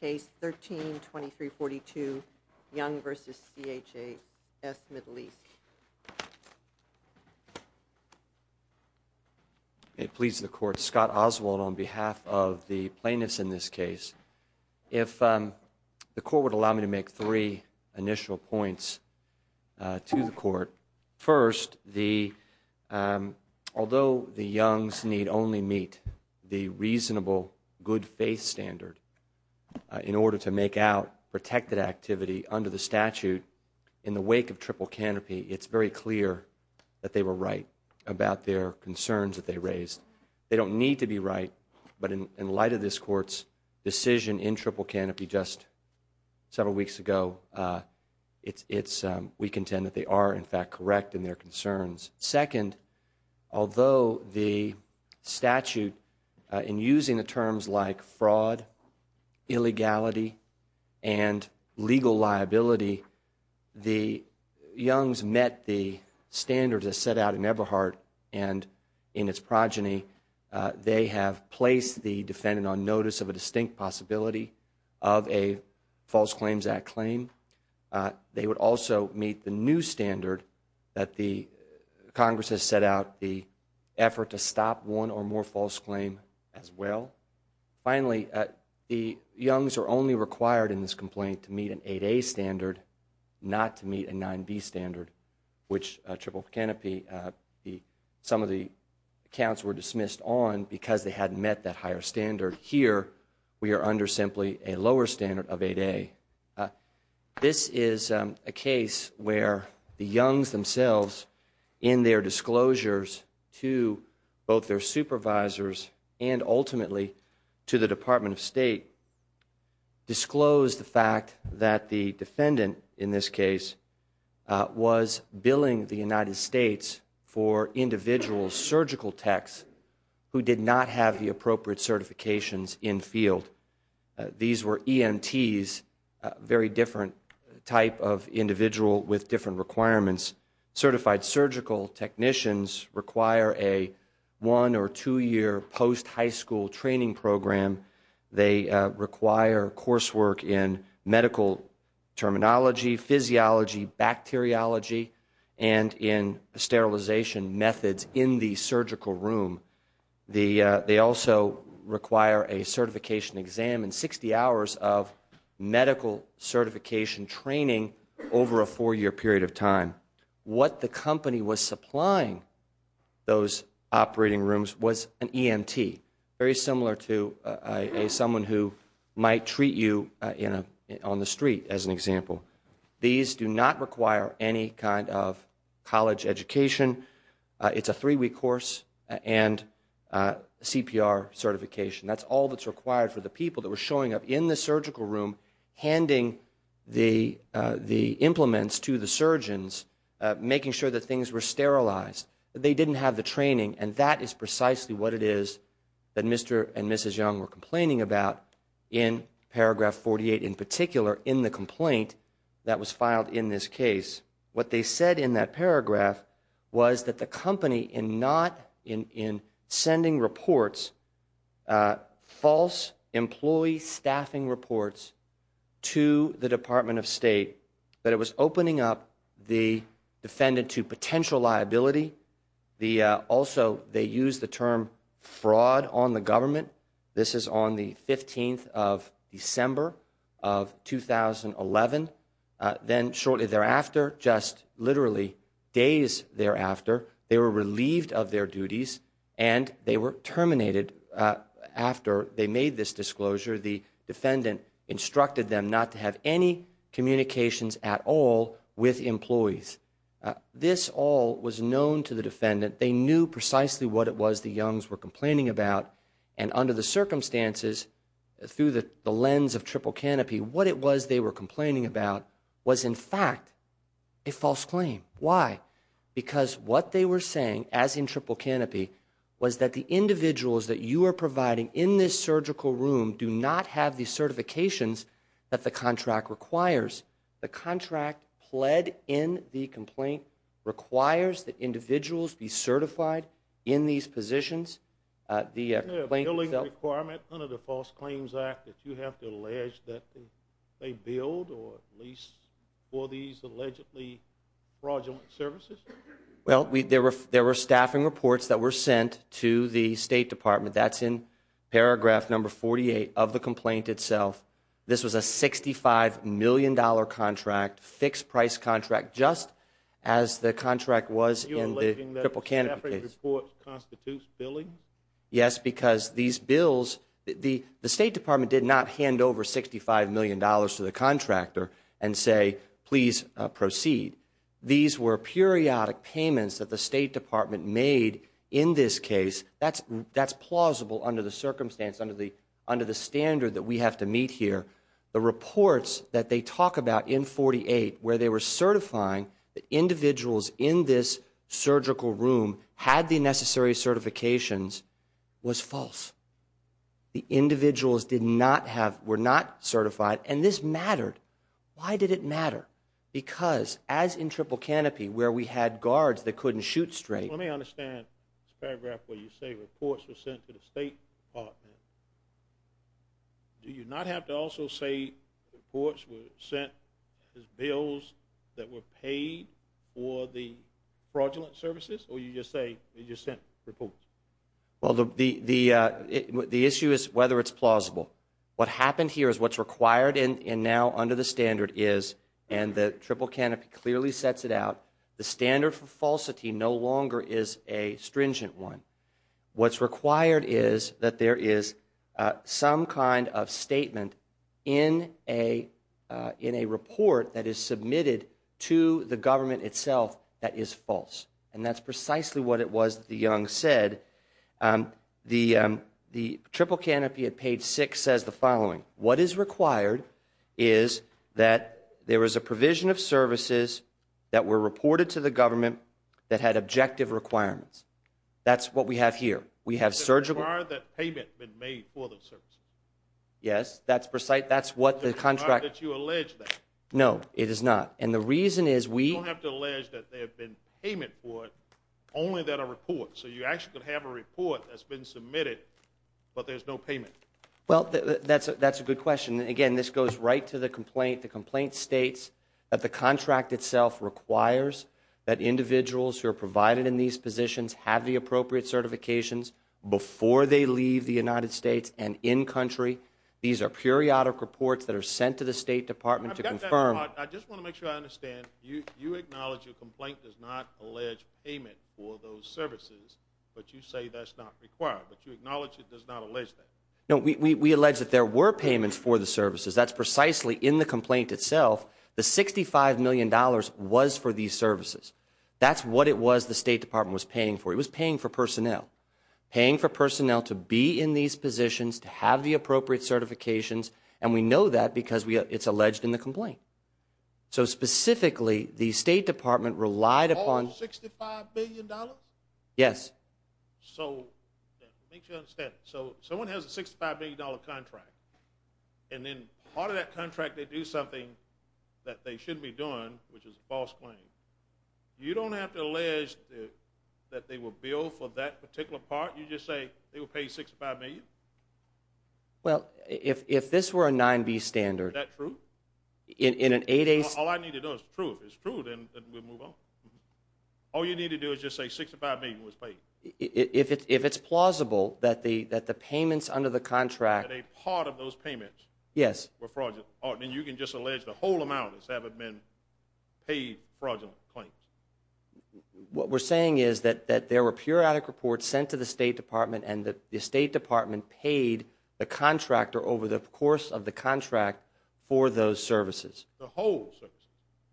Case 13-2342, Young v. CHS Middle East. It pleases the court. Scott Oswald on behalf of the plaintiffs in this case. If the court would allow me to make three initial points to the court. First, although the Youngs need only meet the reasonable good-faith standard in order to make out protected activity under the statute in the wake of Triple Canopy, it's very clear that they were right about their concerns that they raised. They don't need to be right, but in light of this court's decision in Triple Canopy just several weeks ago, we contend that they are in fact correct in their concerns. Second, although the statute in using the terms like fraud, illegality, and legal liability, the Youngs met the standards that set out in Eberhardt and in its progeny. They have placed the defendant on notice of a distinct possibility of a False Claims Act claim. They would also meet the new standard that the Congress has set out, the effort to stop one or more false claim as well. Finally, the Youngs are only required in this complaint to meet an 8A standard, not to meet a 9B standard, which Triple Canopy, some of the accounts were dismissed on because they hadn't met that higher standard. Here, we are under simply a lower standard of 8A. This is a case where the Youngs themselves, in their disclosures to both their supervisors and ultimately to the Department of State, disclosed the fact that the defendant, in this case, was billing the United States for individual surgical techs who did not have the appropriate certifications in field. These were EMTs, very different type of individual with different requirements. Certified surgical technicians require a one or two year post high school training program. They require course work in medical terminology, physiology, bacteriology, and in sterilization methods in the surgical room. They also require a certification exam and 60 hours of medical certification training over a four year period of time. What the company was supplying those operating rooms was an EMT, very similar to someone who might treat you on the street, as an example. These do not require any kind of college education. It's a three week course and CPR certification. That's all that's required for the people that were showing up in the surgical room, handing the implements to the surgeons, making sure that things were sterilized. They didn't have the training and that is precisely what it is that Mr. and Mrs. Young were complaining about in paragraph 48, in particular, in the complaint that was filed in this case. What they said in that paragraph was that the company in not, in sending reports, false employee staffing reports to the Department of State, that it was opening up the defendant to potential liability. Also, they used the term fraud on the government. This is on the 15th of December of 2011. Then shortly thereafter, just literally days thereafter, they were relieved of their duties and they were terminated after they made this disclosure. The defendant instructed them not to have any communications at all with employees. This all was known to the defendant. They knew precisely what it was the Youngs were complaining about. And under the circumstances, through the lens of Triple Canopy, what it was they were complaining about was, in fact, a false claim. Why? Because what they were saying, as in Triple Canopy, was that the individuals that you are providing in this surgical room do not have the certifications that the contract requires. The contract pled in the complaint requires that individuals be certified in these positions. The complaint itself- The billing requirement under the False Claims Act that you have to allege that they billed, or at least for these allegedly fraudulent services? Well, there were staffing reports that were sent to the State Department. That's in paragraph number 48 of the complaint itself. This was a $65 million contract, fixed-price contract, just as the contract was in the Triple Canopy case. Those reports constitute billings? Yes, because these bills, the State Department did not hand over $65 million to the contractor and say, please proceed. These were periodic payments that the State Department made in this case. That's plausible under the circumstance, under the standard that we have to meet here. The reports that they talk about in 48, where they were certifying that individuals in this surgical room had the necessary certifications, was false. The individuals were not certified, and this mattered. Why did it matter? Because, as in Triple Canopy, where we had guards that couldn't shoot straight- Let me understand this paragraph where you say reports were sent to the State Department. Do you not have to also say reports were sent, bills that were paid for the fraudulent services, or you just say they just sent reports? Well, the issue is whether it's plausible. What happened here is what's required and now under the standard is, and the Triple Canopy clearly sets it out, the standard for falsity no longer is a stringent one. What's required is that there is some kind of statement in a report that is submitted to the government itself that is false. And that's precisely what it was that the young said. The Triple Canopy at page six says the following. What is required is that there was a provision of services that were reported to the government that had objective requirements. That's what we have here. We have surgical- Is it required that payment had been made for those services? Yes, that's precise. That's what the contract- Is it required that you allege that? No, it is not. And the reason is we- You don't have to allege that there had been payment for it, only that a report. So you actually could have a report that's been submitted, but there's no payment. Well, that's a good question. Again, this goes right to the complaint. The complaint states that the contract itself requires that individuals who are provided in these positions have the appropriate certifications before they leave the United States and in-country. These are periodic reports that are sent to the State Department to confirm- I just want to make sure I understand. You acknowledge your complaint does not allege payment for those services, but you say that's not required. But you acknowledge it does not allege that. No, we allege that there were payments for the services. That's precisely in the complaint itself. The $65 million was for these services. That's what it was the State Department was paying for. It was paying for personnel. Paying for personnel to be in these positions, to have the appropriate certifications, and we know that because it's alleged in the complaint. So specifically, the State Department relied upon- All $65 billion? Yes. So, make sure I understand. So, someone has a $65 million contract, and then part of that contract they do something that they shouldn't be doing, which is a false claim. You don't have to allege that they were billed for that particular part? You just say they were paid $65 million? Well, if this were a 9B standard- Is that true? In an 8A- All I need to know is the truth. If it's true, then we'll move on. All you need to do is just say $65 million was paid. If it's plausible that the payments under the contract- That a part of those payments- Yes. Were fraudulent, then you can just allege the whole amount has been paid fraudulent claims. What we're saying is that there were periodic reports sent to the State Department, and the State Department paid the contractor over the course of the contract for those services. The whole services?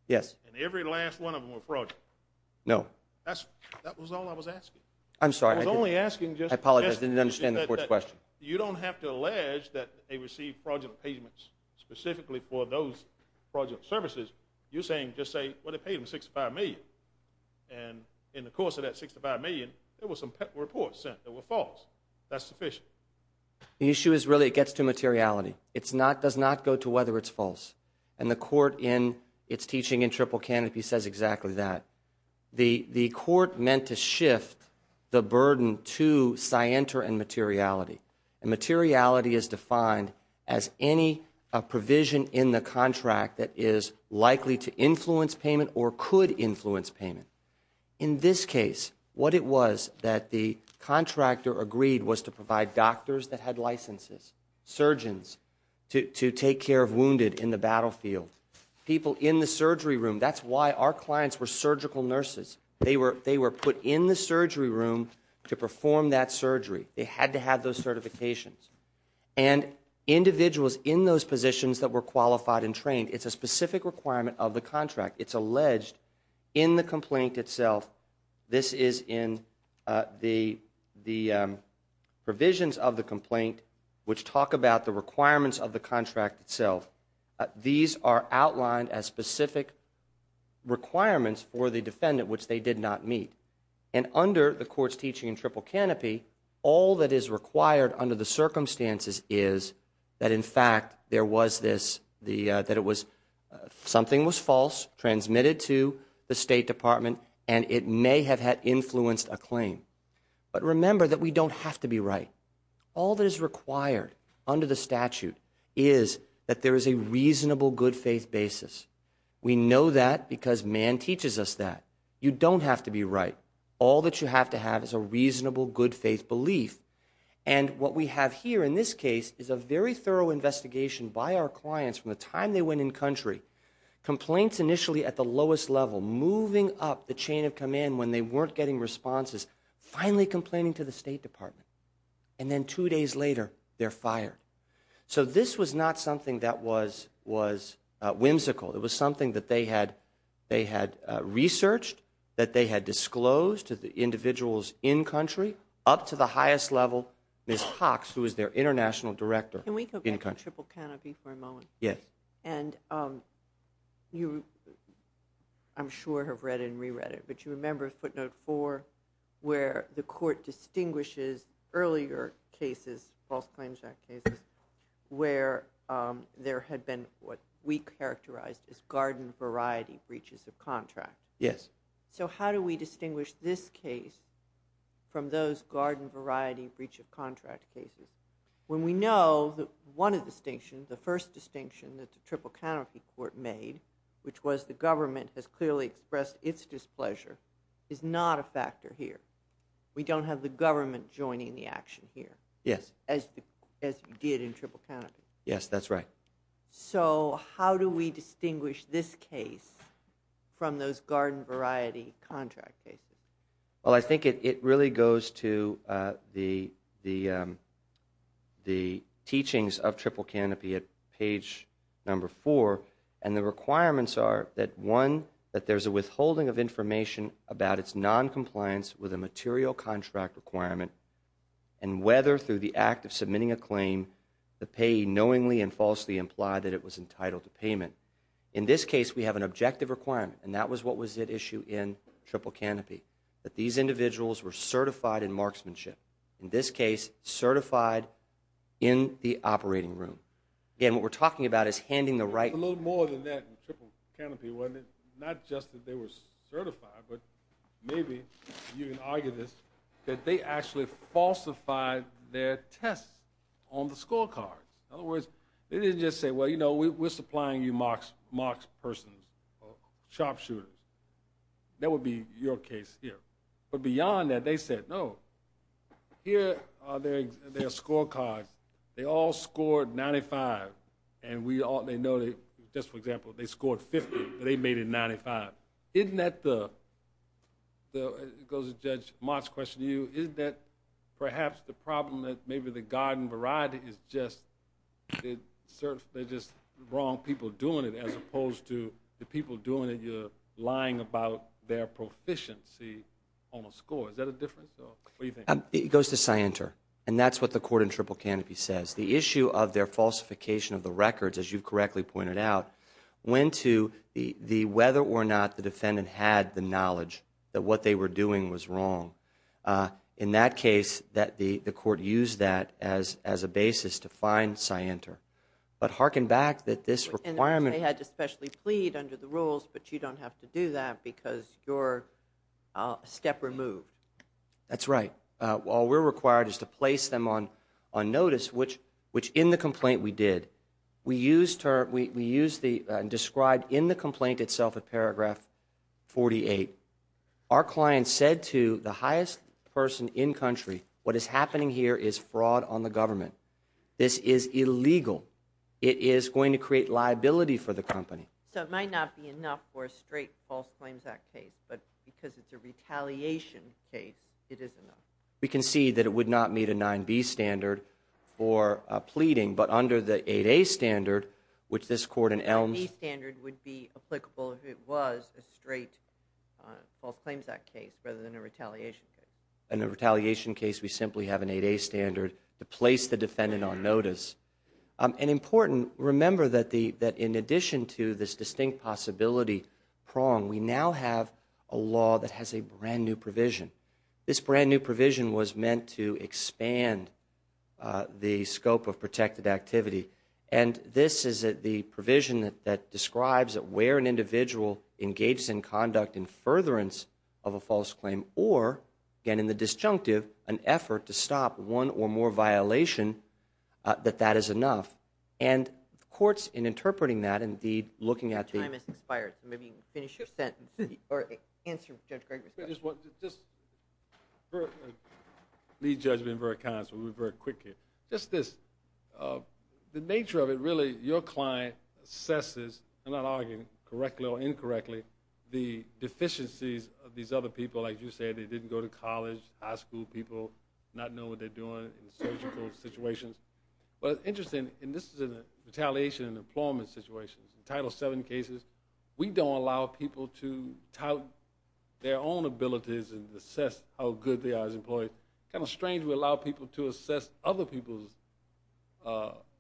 Yes. And every last one of them were fraudulent? No. That was all I was asking. I'm sorry. I was only asking just- I apologize. I didn't understand the court's question. You don't have to allege that they received fraudulent payments specifically for those fraudulent services. You're saying just say, well, they paid them $65 million. And in the course of that $65 million, there were some reports sent that were false. That's sufficient. The issue is really it gets to materiality. It does not go to whether it's false. And the court in its teaching in Triple Canopy says exactly that. The court meant to shift the burden to scienter and materiality. And materiality is defined as any provision in the contract that is likely to influence payment or could influence payment. In this case, what it was that the contractor agreed was to provide doctors that had licenses, surgeons to take care of wounded in the battlefield, people in the surgery room. That's why our clients were surgical nurses. They were put in the surgery room to perform that surgery. They had to have those certifications. And individuals in those positions that were qualified and trained, it's a specific requirement of the contract. It's alleged in the complaint itself. This is in the provisions of the complaint which talk about the requirements of the contract itself. These are outlined as specific requirements for the defendant which they did not meet. And under the court's teaching in Triple Canopy, all that is required under the circumstances is that in fact, there was this, that it was, something was false, transmitted to the State Department, and it may have had influenced a claim. But remember that we don't have to be right. All that is required under the statute is that there is a reasonable good faith basis. We know that because man teaches us that. You don't have to be right. All that you have to have is a reasonable good faith belief. And what we have here in this case is a very thorough investigation by our clients from the time they went in country. Complaints initially at the lowest level, moving up the chain of command when they weren't getting responses. Finally complaining to the State Department. And then two days later, they're fired. So this was not something that was, was whimsical. It was something that they had, they had researched, that they had disclosed to the individuals in country, up to the highest level, Ms. Cox, who was their international director. Can we go back to Triple Canopy for a moment? Yes. And you, I'm sure, have read and re-read it. But you remember footnote four, where the court distinguishes earlier cases, false claims act cases, where there had been what we characterized as garden variety breaches of contract. Yes. So how do we distinguish this case from those garden variety breach of contract cases? When we know that one of the distinctions, the first distinction that the Triple Canopy Court made, which was the government has clearly expressed its displeasure, is not a factor here. We don't have the government joining the action here. Yes. As, as you did in Triple Canopy. Yes, that's right. So how do we distinguish this case from those garden variety contract cases? Well, I think it, it really goes to the, the, the teachings of Triple Canopy at page number four. And the requirements are that one, that there's a withholding of information about its non-compliance with a material contract requirement, and whether through the act of submitting a claim, the payee knowingly and falsely implied that it was entitled to payment. In this case, we have an objective requirement, and that was what was at issue in Triple Canopy. That these individuals were certified in marksmanship. In this case, certified in the operating room. Again, what we're talking about is handing the right- A little more than that in Triple Canopy, wasn't it? Not just that they were certified, but maybe you can argue this, that they actually falsified their tests on the scorecards. In other words, they didn't just say, well, you know, we're supplying you marks, marks persons, or sharpshooters. That would be your case here. But beyond that, they said, no, here are their, their scorecards. They all scored 95, and we all, they know they, just for example, they scored 50, but they made it 95. Isn't that the, the, it goes to Judge Mott's question to you, isn't that perhaps the problem that maybe the garden variety is just, it serves, they're just wrong people doing it, as opposed to the people doing it, you're lying about their proficiency on a score. Is that a difference, or what do you think? It goes to Scienter. And that's what the court in Triple Canopy says. The issue of their falsification of the records, as you correctly pointed out, went to the, the, whether or not the defendant had the knowledge that what they were doing was wrong. In that case, that the, the court used that as, as a basis to find Scienter. But hearken back that this requirement. And they had to specially plead under the rules, but you don't have to do that because you're a step removed. That's right. All we're required is to place them on, on notice, which, which in the complaint we did. We used her, we, we used the, described in the complaint itself at paragraph 48. Our client said to the highest person in country, what is happening here is fraud on the government. This is illegal. It is going to create liability for the company. So it might not be enough for a straight false claims act case, but because it's a retaliation case, it is enough. We can see that it would not meet a 9B standard for pleading, but under the 8A standard, which this court in Elms. The standard would be applicable if it was a straight false claims act case rather than a retaliation case. In a retaliation case, we simply have an 8A standard to place the defendant on notice. And important, remember that the, that in addition to this distinct possibility prong, we now have a law that has a brand new provision. This brand new provision was meant to expand the scope of protected activity. And this is the provision that describes where an individual engages in conduct and furtherance of a false claim, or again in the disjunctive, an effort to stop one or more violation, that that is enough. And courts in interpreting that, indeed, looking at the- Maybe you can finish your sentence, or answer Judge Gregory's question. I just want to, just, lead judgment and very kind, so we'll be very quick here. Just this, the nature of it, really, your client assesses, I'm not arguing correctly or incorrectly, the deficiencies of these other people, like you said, they didn't go to college, high school people, not know what they're doing in surgical situations. But it's interesting, and this is in a retaliation and employment situations. Title VII cases, we don't allow people to tout their own abilities and assess how good they are as employees. Kind of strange we allow people to assess other people's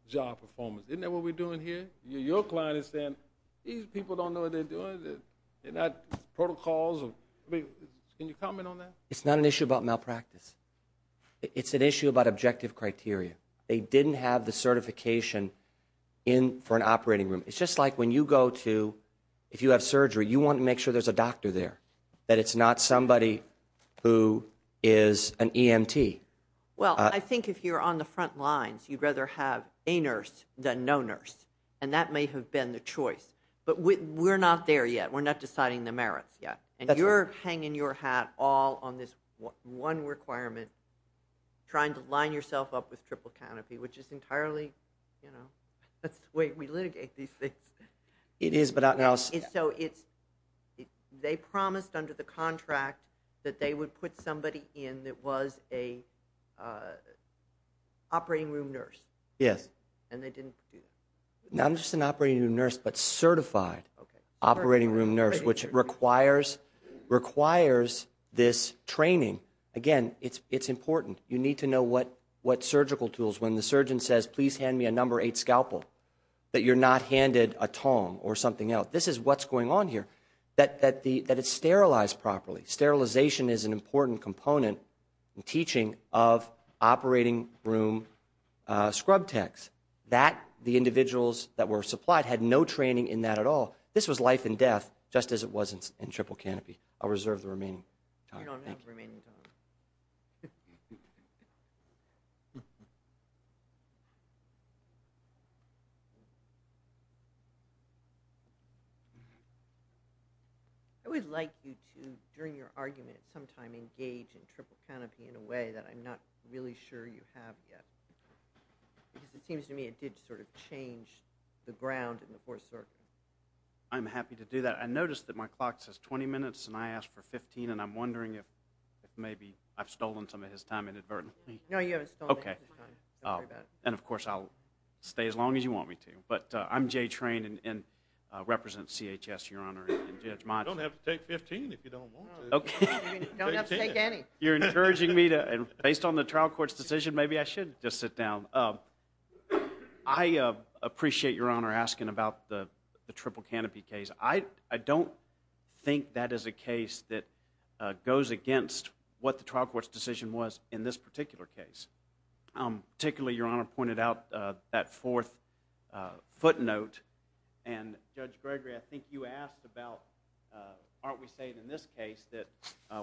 job performance. Isn't that what we're doing here? Your client is saying, these people don't know what they're doing. They're not protocols, or, I mean, can you comment on that? It's not an issue about malpractice. It's an issue about objective criteria. They didn't have the certification in, for an operating room. It's just like when you go to, if you have surgery, you want to make sure there's a doctor there. That it's not somebody who is an EMT. Well, I think if you're on the front lines, you'd rather have a nurse than no nurse. And that may have been the choice. But we're not there yet. We're not deciding the merits yet. And you're hanging your hat all on this one requirement, trying to line yourself up with triple canopy, which is entirely, you know, that's the way we litigate these things. It is, but I'll see. So it's, they promised under the contract that they would put somebody in that was an operating room nurse. Yes. And they didn't do that. Not just an operating room nurse, but certified operating room nurse, which requires this training. Again, it's important. You need to know what surgical tools. When the surgeon says, please hand me a number eight scalpel, that you're not handed a tong or something else. This is what's going on here, that it's sterilized properly. Sterilization is an important component in teaching of operating room scrub techs. That, the individuals that were supplied had no training in that at all. This was life and death, just as it was in triple canopy. I'll reserve the remaining time. You don't have the remaining time. I would like you to, during your argument, sometime engage in triple canopy in a way that I'm not really sure you have yet. Because it seems to me it did sort of change the ground in the fourth circuit. I'm happy to do that. I noticed that my clock says 20 minutes, and I asked for 15. And I'm wondering if maybe I've stolen some of his time inadvertently. No, you haven't stolen any of his time. And of course, I'll stay as long as you want me to. But I'm Jay Train, and represent CHS, Your Honor, and Judge Mott. You don't have to take 15 if you don't want to. You don't have to take any. You're encouraging me to, based on the trial court's decision, maybe I should just sit down. I appreciate Your Honor asking about the triple canopy case. I don't think that is a case that goes against what the trial court's decision was in this particular case. Particularly, Your Honor pointed out that fourth footnote. And Judge Gregory, I think you asked about, aren't we saying in this case that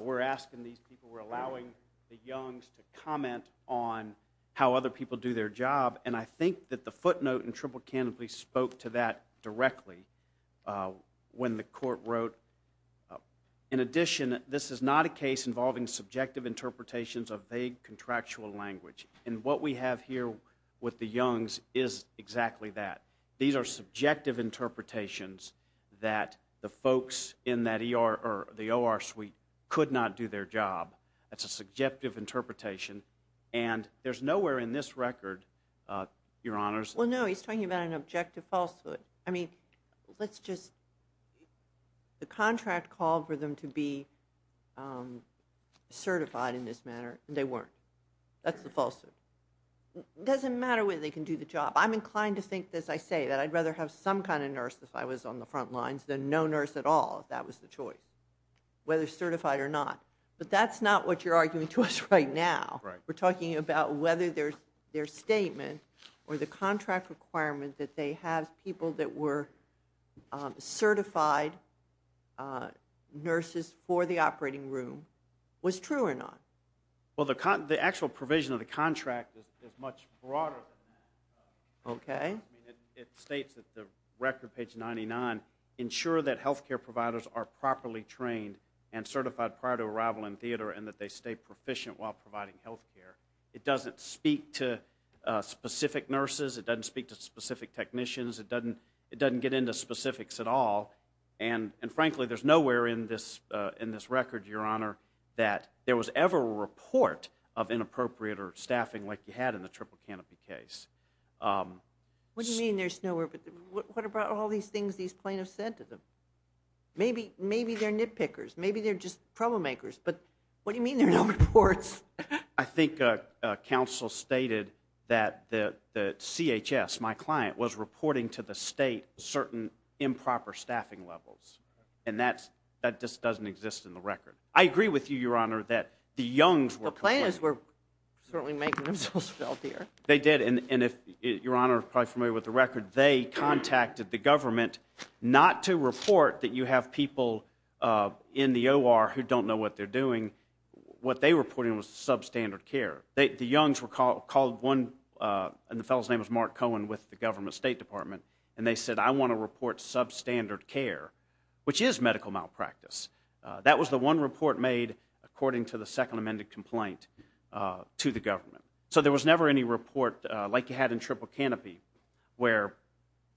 we're asking these people, we're allowing the youngs to comment on how other people do their job. And I think that the footnote in triple canopy spoke to that directly when the court wrote, in addition, this is not a case involving subjective interpretations of vague contractual language. And what we have here with the youngs is exactly that. These are subjective interpretations that the folks in that ER or the OR suite could not do their job. That's a subjective interpretation. And there's nowhere in this record, Your Honors. Well, no, he's talking about an objective falsehood. I mean, let's just, the contract called for them to be certified in this manner, and they weren't. That's the falsehood. It doesn't matter whether they can do the job. I'm inclined to think, as I say, that I'd rather have some kind of nurse if I was on the front lines than no nurse at all if that was the choice, whether certified or not. But that's not what you're arguing to us right now. We're talking about whether their statement or the contract requirement that they have people that were certified nurses for the operating room was true or not. Well, the actual provision of the contract is much broader than that. Okay. It states that the record, page 99, ensure that health care providers are properly trained and certified prior to arrival in theater and that they stay proficient while providing health care. It doesn't speak to specific nurses. It doesn't speak to specific technicians. It doesn't get into specifics at all. And frankly, there's nowhere in this record, Your Honor, that there was ever a report of inappropriate or staffing like you had in the Triple Canopy case. What do you mean there's nowhere? What about all these things these plaintiffs said to them? Maybe they're nitpickers. Maybe they're just troublemakers. But what do you mean there are no reports? I think counsel stated that the CHS, my client, was reporting to the state certain improper staffing levels. And that just doesn't exist in the record. I agree with you, Your Honor, that the youngs were- The plaintiffs were certainly making themselves felt here. They did. And if Your Honor is probably familiar with the record, they contacted the government not to report that you have people in the OR who don't know what they're doing. What they were reporting was substandard care. The youngs were called one- And the fellow's name was Mark Cohen with the government state department. And they said, I want to report substandard care, which is medical malpractice. That was the one report made according to the second amended complaint to the government. So there was never any report like you had in Triple Canopy where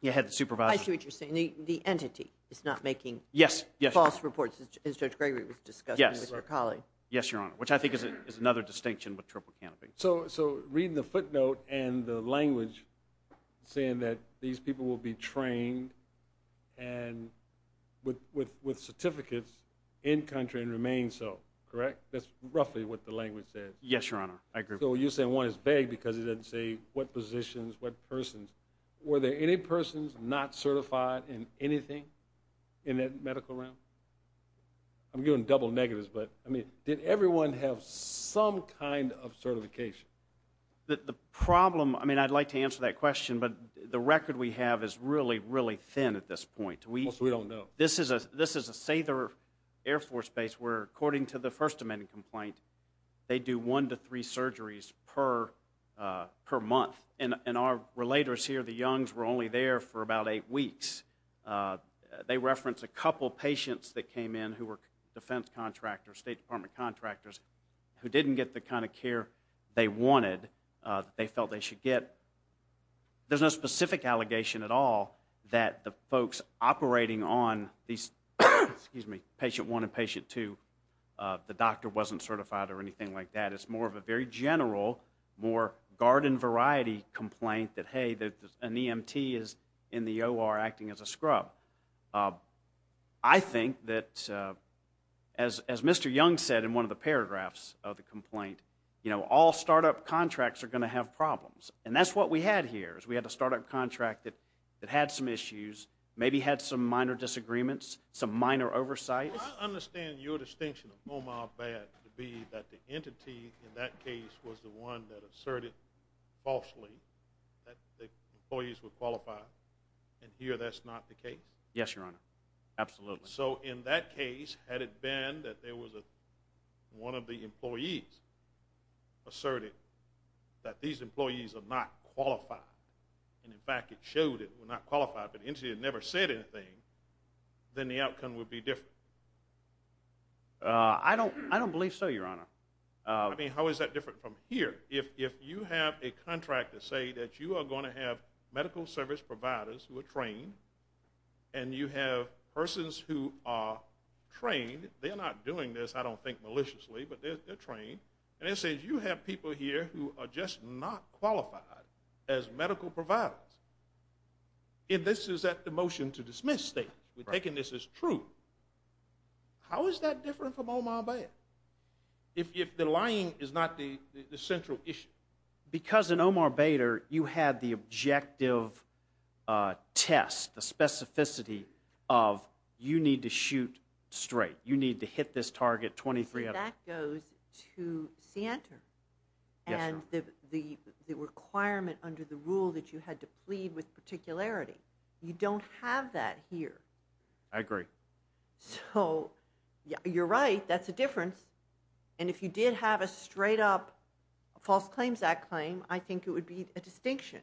you had the supervisor- I see what you're saying. The entity is not making false reports as Judge Gregory was discussing with your colleague. Yes, Your Honor, which I think is another distinction with Triple Canopy. So reading the footnote and the language saying that these people will be trained with certificates in-country and remain so, correct? That's roughly what the language says. Yes, Your Honor. I agree. So you're saying one is vague because it doesn't say what positions, what persons. Were there any persons not certified in anything in that medical realm? I'm giving double negatives, but I mean, did everyone have some kind of certification? The problem, I mean, I'd like to answer that question, but the record we have is really, really thin at this point. We don't know. This is a Sather Air Force Base where, according to the first amended complaint, they do one to three surgeries per month. And our relators here, the Youngs, were only there for about eight weeks. They referenced a couple patients that came in who were defense contractors, State Department contractors, who didn't get the kind of care they wanted, that they felt they should get. There's no specific allegation at all that the folks operating on these, excuse me, patient one and patient two, the doctor wasn't certified or anything like that. It's more of a very general, more garden variety complaint that, hey, an EMT is in the OR acting as a scrub. I think that, as Mr. Young said in one of the paragraphs of the complaint, you know, all startup contracts are going to have problems. And that's what we had here, is we had a startup contract that had some issues, maybe had some minor disagreements, some minor oversight. Well, I understand your distinction of oh-my-bad to be that the entity in that case was the one that asserted falsely that the employees were qualified, and here that's not the case? Yes, Your Honor, absolutely. So in that case, had it been that there was one of the employees asserted that these employees are not qualified, and in fact it showed it were not qualified, but the entity had never said anything, then the outcome would be different. I don't believe so, Your Honor. I mean, how is that different from here? If you have a contract to say that you are going to have medical service providers who are trained and you have persons who are trained, they're not doing this, I don't think, maliciously, but they're trained, and it says you have people here who are just not qualified as medical providers, and this is at the motion to dismiss stage. We're taking this as true. How is that different from oh-my-bad, if the lying is not the central issue? Because in Omar Bader, you had the objective test, the specificity of you need to shoot straight, you need to hit this target 23... That goes to SANTOR, and the requirement under the rule that you had to plead with particularity. You don't have that here. I agree. So you're right, that's a difference, and if you did have a straight-up False Claims Act claim, I think it would be a distinction,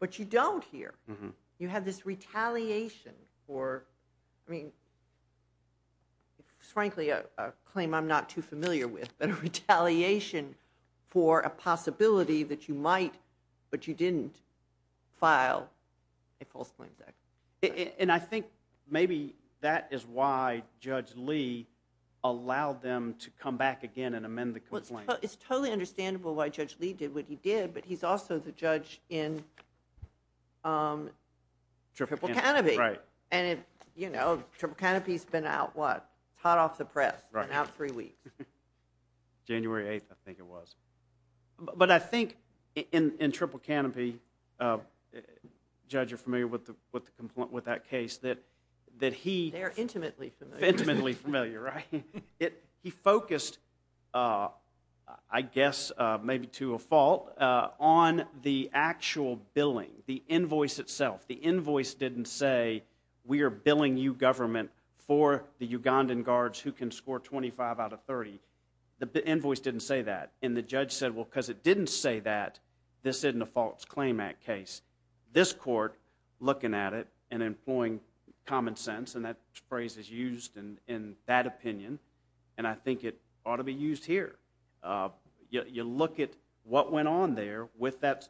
but you don't here. You have this retaliation for, I mean, frankly, a claim I'm not too familiar with, but a retaliation for a possibility that you might, but you didn't, file a False Claims Act. And I think maybe that is why Judge Lee allowed them to come back again and amend the complaint. It's totally understandable why Judge Lee did what he did, but he's also the judge in Triple Canopy. And, you know, Triple Canopy's been out, what, hot off the press, been out three weeks. January 8th, I think it was. But I think in Triple Canopy, Judge, you're familiar with that case, that he... They're intimately familiar. Intimately familiar, right? He focused, I guess, maybe to a fault, on the actual billing, the invoice itself. The invoice didn't say, we are billing you, government, for the Ugandan guards who can score 25 out of 30. The invoice didn't say that. And the judge said, well, because it didn't say that, this isn't a False Claim Act case. This court, looking at it and employing common sense, and that phrase is used in that opinion, and I think it ought to be used here. You look at what went on there with that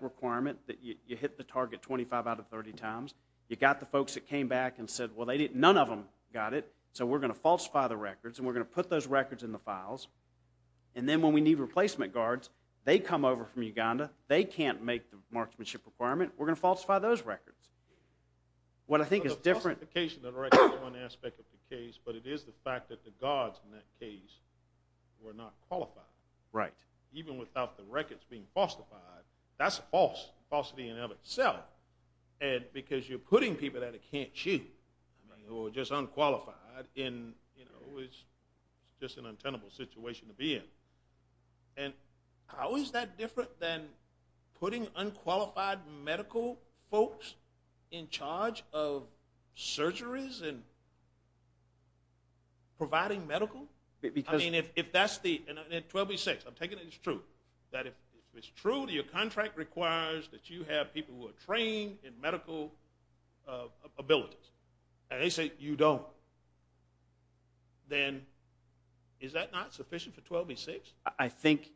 requirement that you hit the target 25 out of 30 times. You got the folks that came back and said, well, none of them got it, so we're going to falsify the records, and we're going to put those records in the files, and then when we need replacement guards, they come over from Uganda, they can't make the marksmanship requirement, we're going to falsify those records. What I think is different... The falsification of the records is one aspect of the case, but it is the fact that the guards in that case were not qualified. Right. Even without the records being falsified, that's false, falsity in and of itself. And because you're putting people that can't shoot, who are just unqualified, and it's just an untenable situation to be in. And how is that different than putting unqualified medical folks in charge of surgeries and providing medical? I mean, if that's the... And then 12b-6, I'm taking it as true, that if it's true that your contract requires that you have people who are trained in medical abilities, and they say you don't, then is that not sufficient for 12b-6? I think,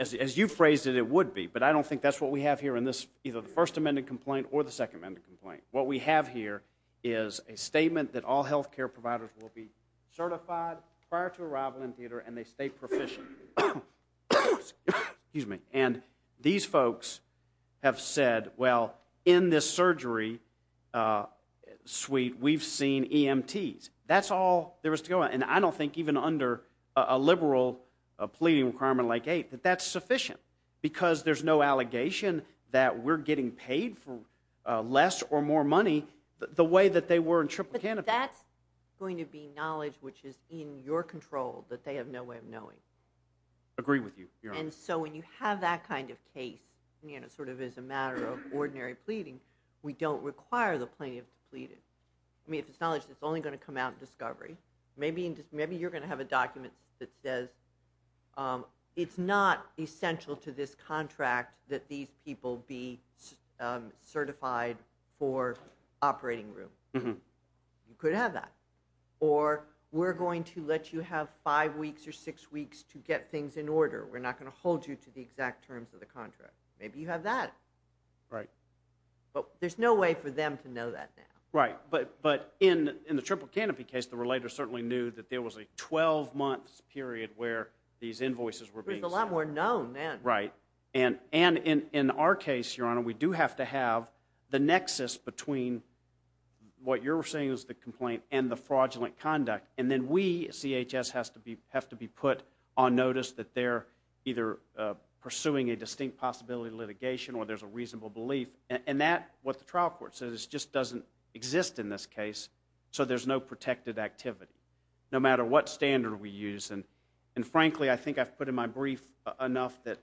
as you phrased it, it would be, but I don't think that's what we have here in this, either the First Amendment complaint or the Second Amendment complaint. What we have here is a statement that all health care providers will be certified prior to arrival in theater, and they stay proficient. Excuse me. And these folks have said, well, in this surgery suite, we've seen EMTs. That's all there is to go on. And I don't think even under a liberal pleading requirement like 8, that that's sufficient. Because there's no allegation that we're getting paid for less or more money the way that they were in Triple Canada. But that's going to be knowledge which is in your control that they have no way of knowing. Agree with you, Your Honor. And so when you have that kind of case, you know, sort of as a matter of ordinary pleading, we don't require the plaintiff to plead it. I mean, if it's knowledge that's only going to come out in discovery, maybe you're going to have a document that says it's not essential to this contract that these people be certified for operating room. You could have that. Or we're going to let you have five weeks or six weeks to get things in order. We're not going to hold you to the exact terms of the contract. Maybe you have that. Right. But there's no way for them to know that now. Right. But in the Triple Canopy case, the relator certainly knew that there was a 12-month period where these invoices were being sent. It was a lot more known then. Right. And in our case, Your Honor, we do have to have the nexus between what you're saying is the complaint and the fraudulent conduct. And then we, CHS, have to be put on notice that they're either pursuing a distinct possibility of litigation or there's a reasonable belief. And that, what the trial court says, just doesn't exist in this case. So there's no protected activity, no matter what standard we use. And frankly, I think I've put in my brief enough that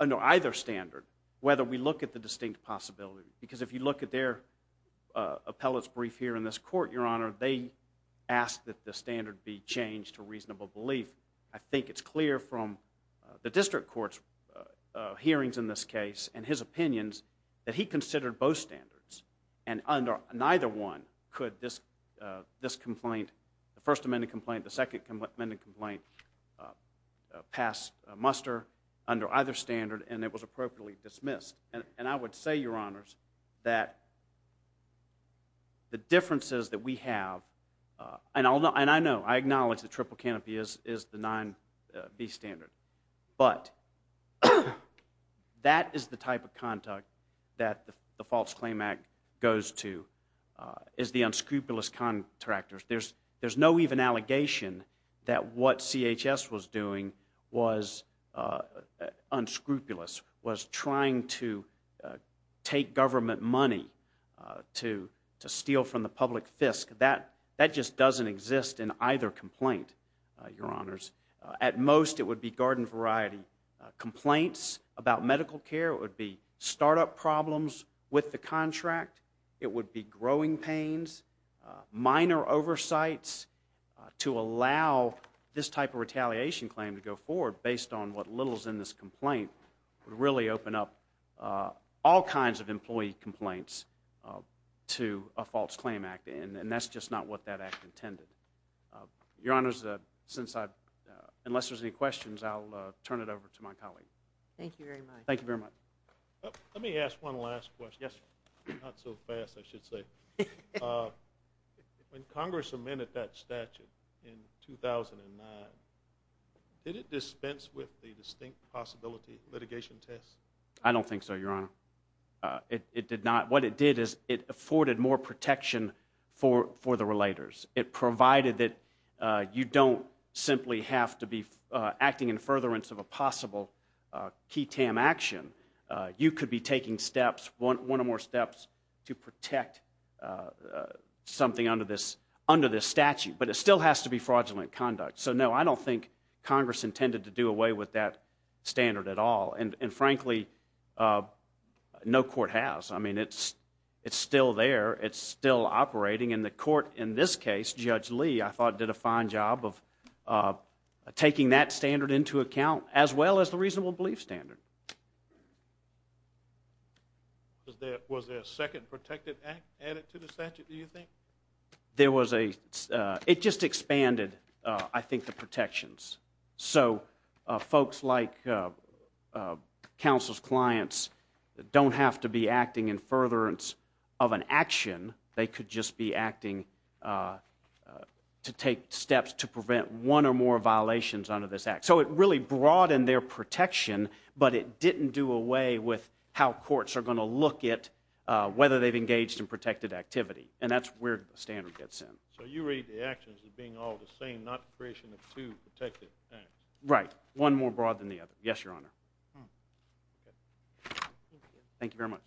under either standard, whether we look at the distinct possibility. Because if you look at their appellate's brief here in this court, Your Honor, they ask that the standard be changed to reasonable belief. I think it's clear from the district court's hearings in this case and his opinions that he considered both standards. And under neither one could this complaint, the First Amendment complaint, the Second Amendment complaint, pass muster under either standard. And it was appropriately dismissed. And I would say, Your Honors, that the differences that we have, and I know, I acknowledge the triple canopy is the 9B standard. But that is the type of conduct that the False Claim Act goes to, is the unscrupulous contractors. There's no even allegation that what CHS was doing was unscrupulous, was trying to take government money to steal from the public fisc. That just doesn't exist in either complaint, Your Honors. At most, it would be garden variety complaints about medical care. It would be startup problems with the contract. It would be growing pains, minor oversights to allow this type of retaliation claim to go forward, based on what little's in this complaint, would really open up all kinds of employee complaints to a False Claim Act. And that's just not what that act intended. Your Honors, since I, unless there's any questions, I'll turn it over to my colleague. Thank you very much. Thank you very much. Let me ask one last question. Yes, not so fast, I should say. When Congress amended that statute in 2009, did it dispense with the distinct possibility litigation test? I don't think so, Your Honor. It did not. What it did is it afforded more protection for the relators. It provided that you don't simply have to be acting in furtherance of a possible key tam action. You could be taking steps, one or more steps, to protect something under this statute. But it still has to be fraudulent conduct. So no, I don't think Congress intended to do away with that standard at all. And frankly, no court has. I mean, it's still there. It's still operating. And the court in this case, Judge Lee, I thought did a fine job of taking that standard into account, as well as the reasonable belief standard. Was there a second protected act added to the statute, do you think? There was a, it just expanded, I think, the protections. So folks like counsel's clients don't have to be acting in furtherance of an action. They could just be acting to take steps to prevent one or more violations under this act. So it really broadened their protection. But it didn't do away with how courts are going to look at whether they've engaged in protected activity. And that's where the standard gets in. So you rate the actions as being all the same, not creation of two protected acts? Right. One more broad than the other. Yes, Your Honor. Thank you very much.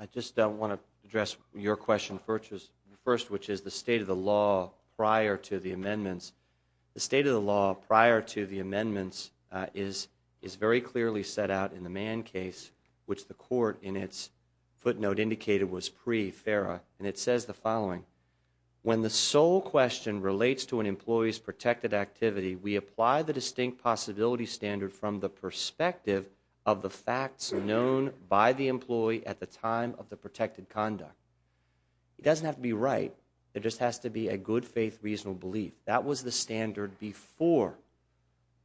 I just want to address your question first, which is the state of the law prior to the amendments. The state of the law prior to the amendments is very clearly set out in the Mann case, which the court in its footnote indicated was pre-FERA. And it says the following, when the sole question relates to an employee's protected activity, we apply the distinct possibility standard from the perspective of the facts known by the employee at the time of the protected conduct. It doesn't have to be right. It just has to be a good faith, reasonable belief. That was the standard before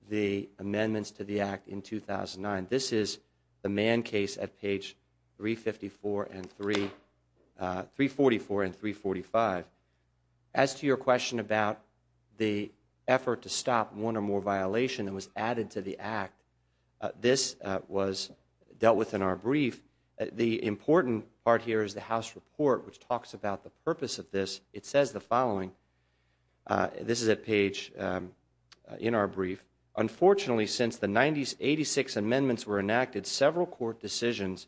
the amendments to the act in 2009. This is the Mann case at page 344 and 345. As to your question about the effort to stop one or more violation that was added to the act, this was dealt with in our brief. The important part here is the House report, which talks about the purpose of this. It says the following. This is a page in our brief. Unfortunately, since the 86 amendments were enacted, several court decisions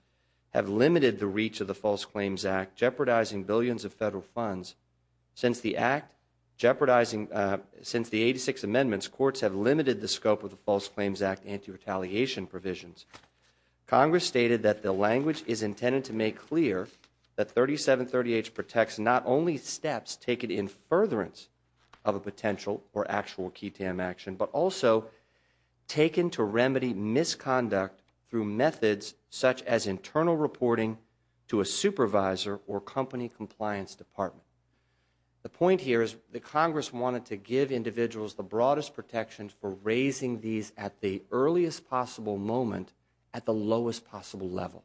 have limited the reach of the False Claims Act, jeopardizing billions of federal funds. Since the 86 amendments, courts have limited the scope of the False Claims Act anti-retaliation provisions. Congress stated that the language is intended to make clear that 3738 protects not only steps taken in furtherance of a potential or actual key tam action, but also taken to remedy misconduct through methods such as internal reporting to a supervisor or company compliance department. The point here is that Congress wanted to give individuals the broadest protection for raising these at the earliest possible moment at the lowest possible level.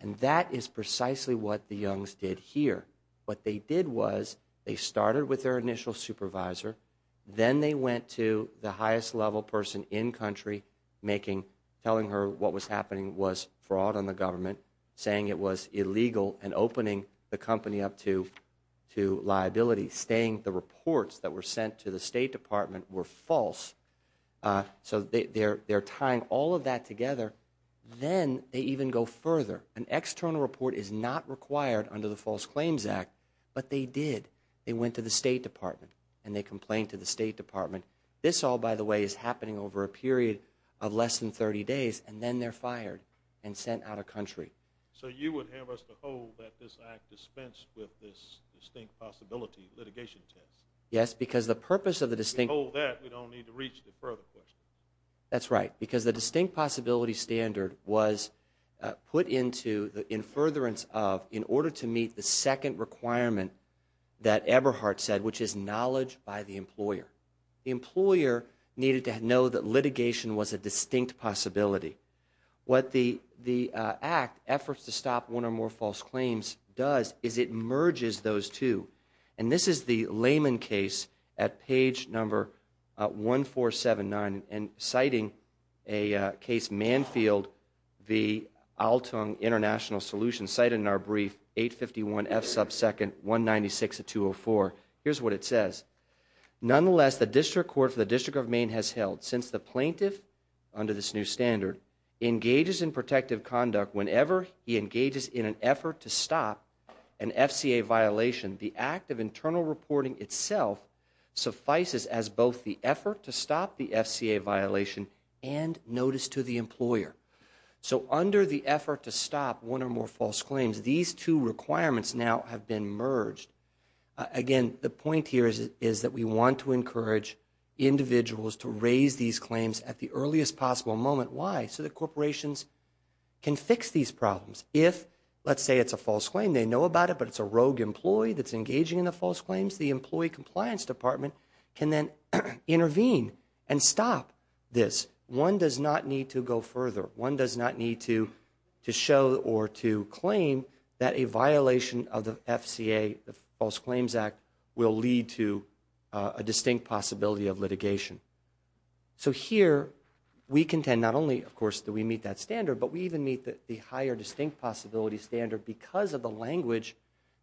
And that is precisely what the Youngs did here. What they did was they started with their initial supervisor, then they went to the highest level person in country, telling her what was happening was fraud on the government, saying it was illegal and opening the company up to liability. Staying the reports that were sent to the State Department were false. So they're tying all of that together. Then they even go further. An external report is not required under the False Claims Act, but they did. They went to the State Department and they complained to the State Department. This all, by the way, is happening over a period of less than 30 days. And then they're fired and sent out of country. So you would have us to hold that this act dispensed with this distinct possibility litigation test? Yes, because the purpose of the distinct possibility standard was put into the in furtherance of in order to meet the second requirement that Eberhardt said, which is knowledge by the employer. The employer needed to know that litigation was a distinct possibility. What the act, efforts to stop one or more false claims, does is it merges those two. And this is the Lehman case at page number 1479, and citing a case, Manfield v. Altung International Solutions, cited in our brief, 851 F sub second 196 of 204. Here's what it says. Nonetheless, the District Court for the District of Maine has held, since the plaintiff, under this new standard, engages in protective conduct whenever he engages in an effort to stop an FCA violation, the act of internal reporting itself suffices as both the effort to stop the FCA violation and notice to the employer. So under the effort to stop one or more false claims, these two requirements now have been merged. Again, the point here is that we want to encourage individuals to raise these claims at the earliest possible moment. Why? So that corporations can fix these problems. If, let's say it's a false claim, they know about it, but it's a rogue employee that's engaging in the false claims, the Employee Compliance Department can then intervene and stop this. One does not need to go further. One does not need to show or to claim that a violation of the FCA, the False Claims Act, will lead to a distinct possibility of litigation. So here, we contend not only, of course, that we meet that standard, but we even meet the higher distinct possibility standard because of the language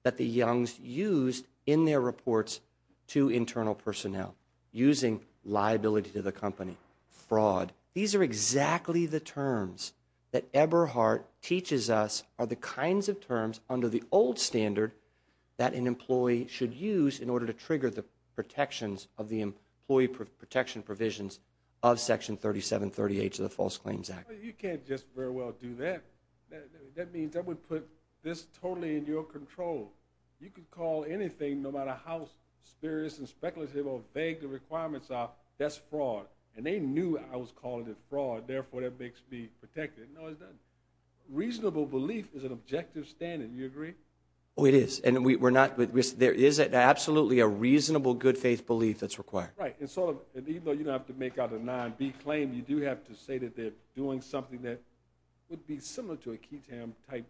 that the Youngs used in their reports to internal personnel, using liability to the company, fraud. These are exactly the terms that Eberhardt teaches us are the kinds of terms under the old standard that an employee should use in order to trigger the protections of the employee protection provisions of Section 3738 to the False Claims Act. You can't just very well do that. That means that would put this totally in your control. You could call anything, no matter how spurious and speculative or vague the requirements are, that's fraud. And they knew I was calling it fraud. Therefore, that makes me protected. No, it doesn't. Reasonable belief is an objective standard. Do you agree? Oh, it is. And we're not, there is absolutely a reasonable good faith belief that's required. Right. And so, even though you don't have to make out a 9B claim, you do have to say that they're doing something that would be similar to a Ketam-type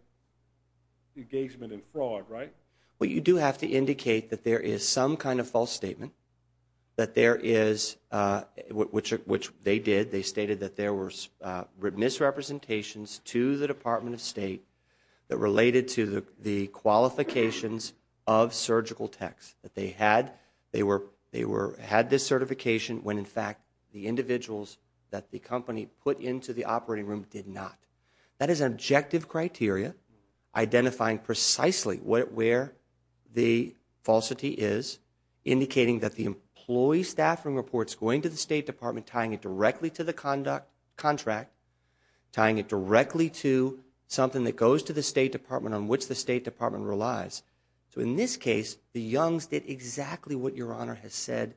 engagement in fraud, right? Well, you do have to indicate that there is some kind of false statement, that there is, which they did. They stated that there were misrepresentations to the Department of State that related to the qualifications of surgical techs, that they had this certification when, in fact, the individuals that the company put into the operating room did not. That is an objective criteria identifying precisely where the falsity is, indicating that the employee staffing report's going to the State Department, tying it directly to the contract, tying it directly to something that goes to the State Department on which the State Department relies. So, in this case, the Youngs did exactly what Your Honor has said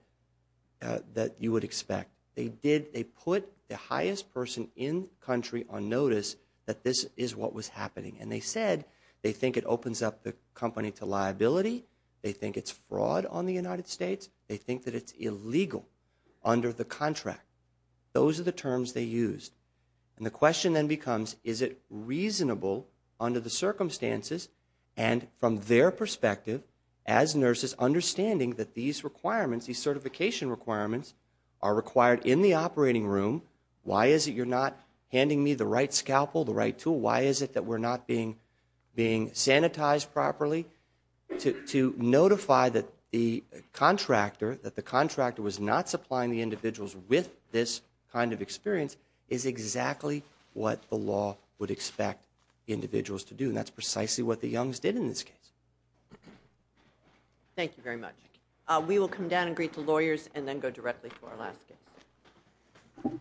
that you would expect. They did, they put the highest person in the country on notice that this is what was happening. And they said they think it opens up the company to liability. They think it's fraud on the United States. They think that it's illegal under the contract. Those are the terms they used. And the question then becomes, is it reasonable under the circumstances and from their perspective as nurses understanding that these requirements, these certification requirements are required in the operating room? Why is it you're not handing me the right scalpel, the right tool? Why is it that we're not being sanitized properly? To notify that the contractor, that the contractor was not supplying the individuals with this kind of experience is exactly what the law would expect individuals to do. And that's precisely what the Youngs did in this case. Thank you very much. We will come down and greet the lawyers and then go directly to our last case. Thank you.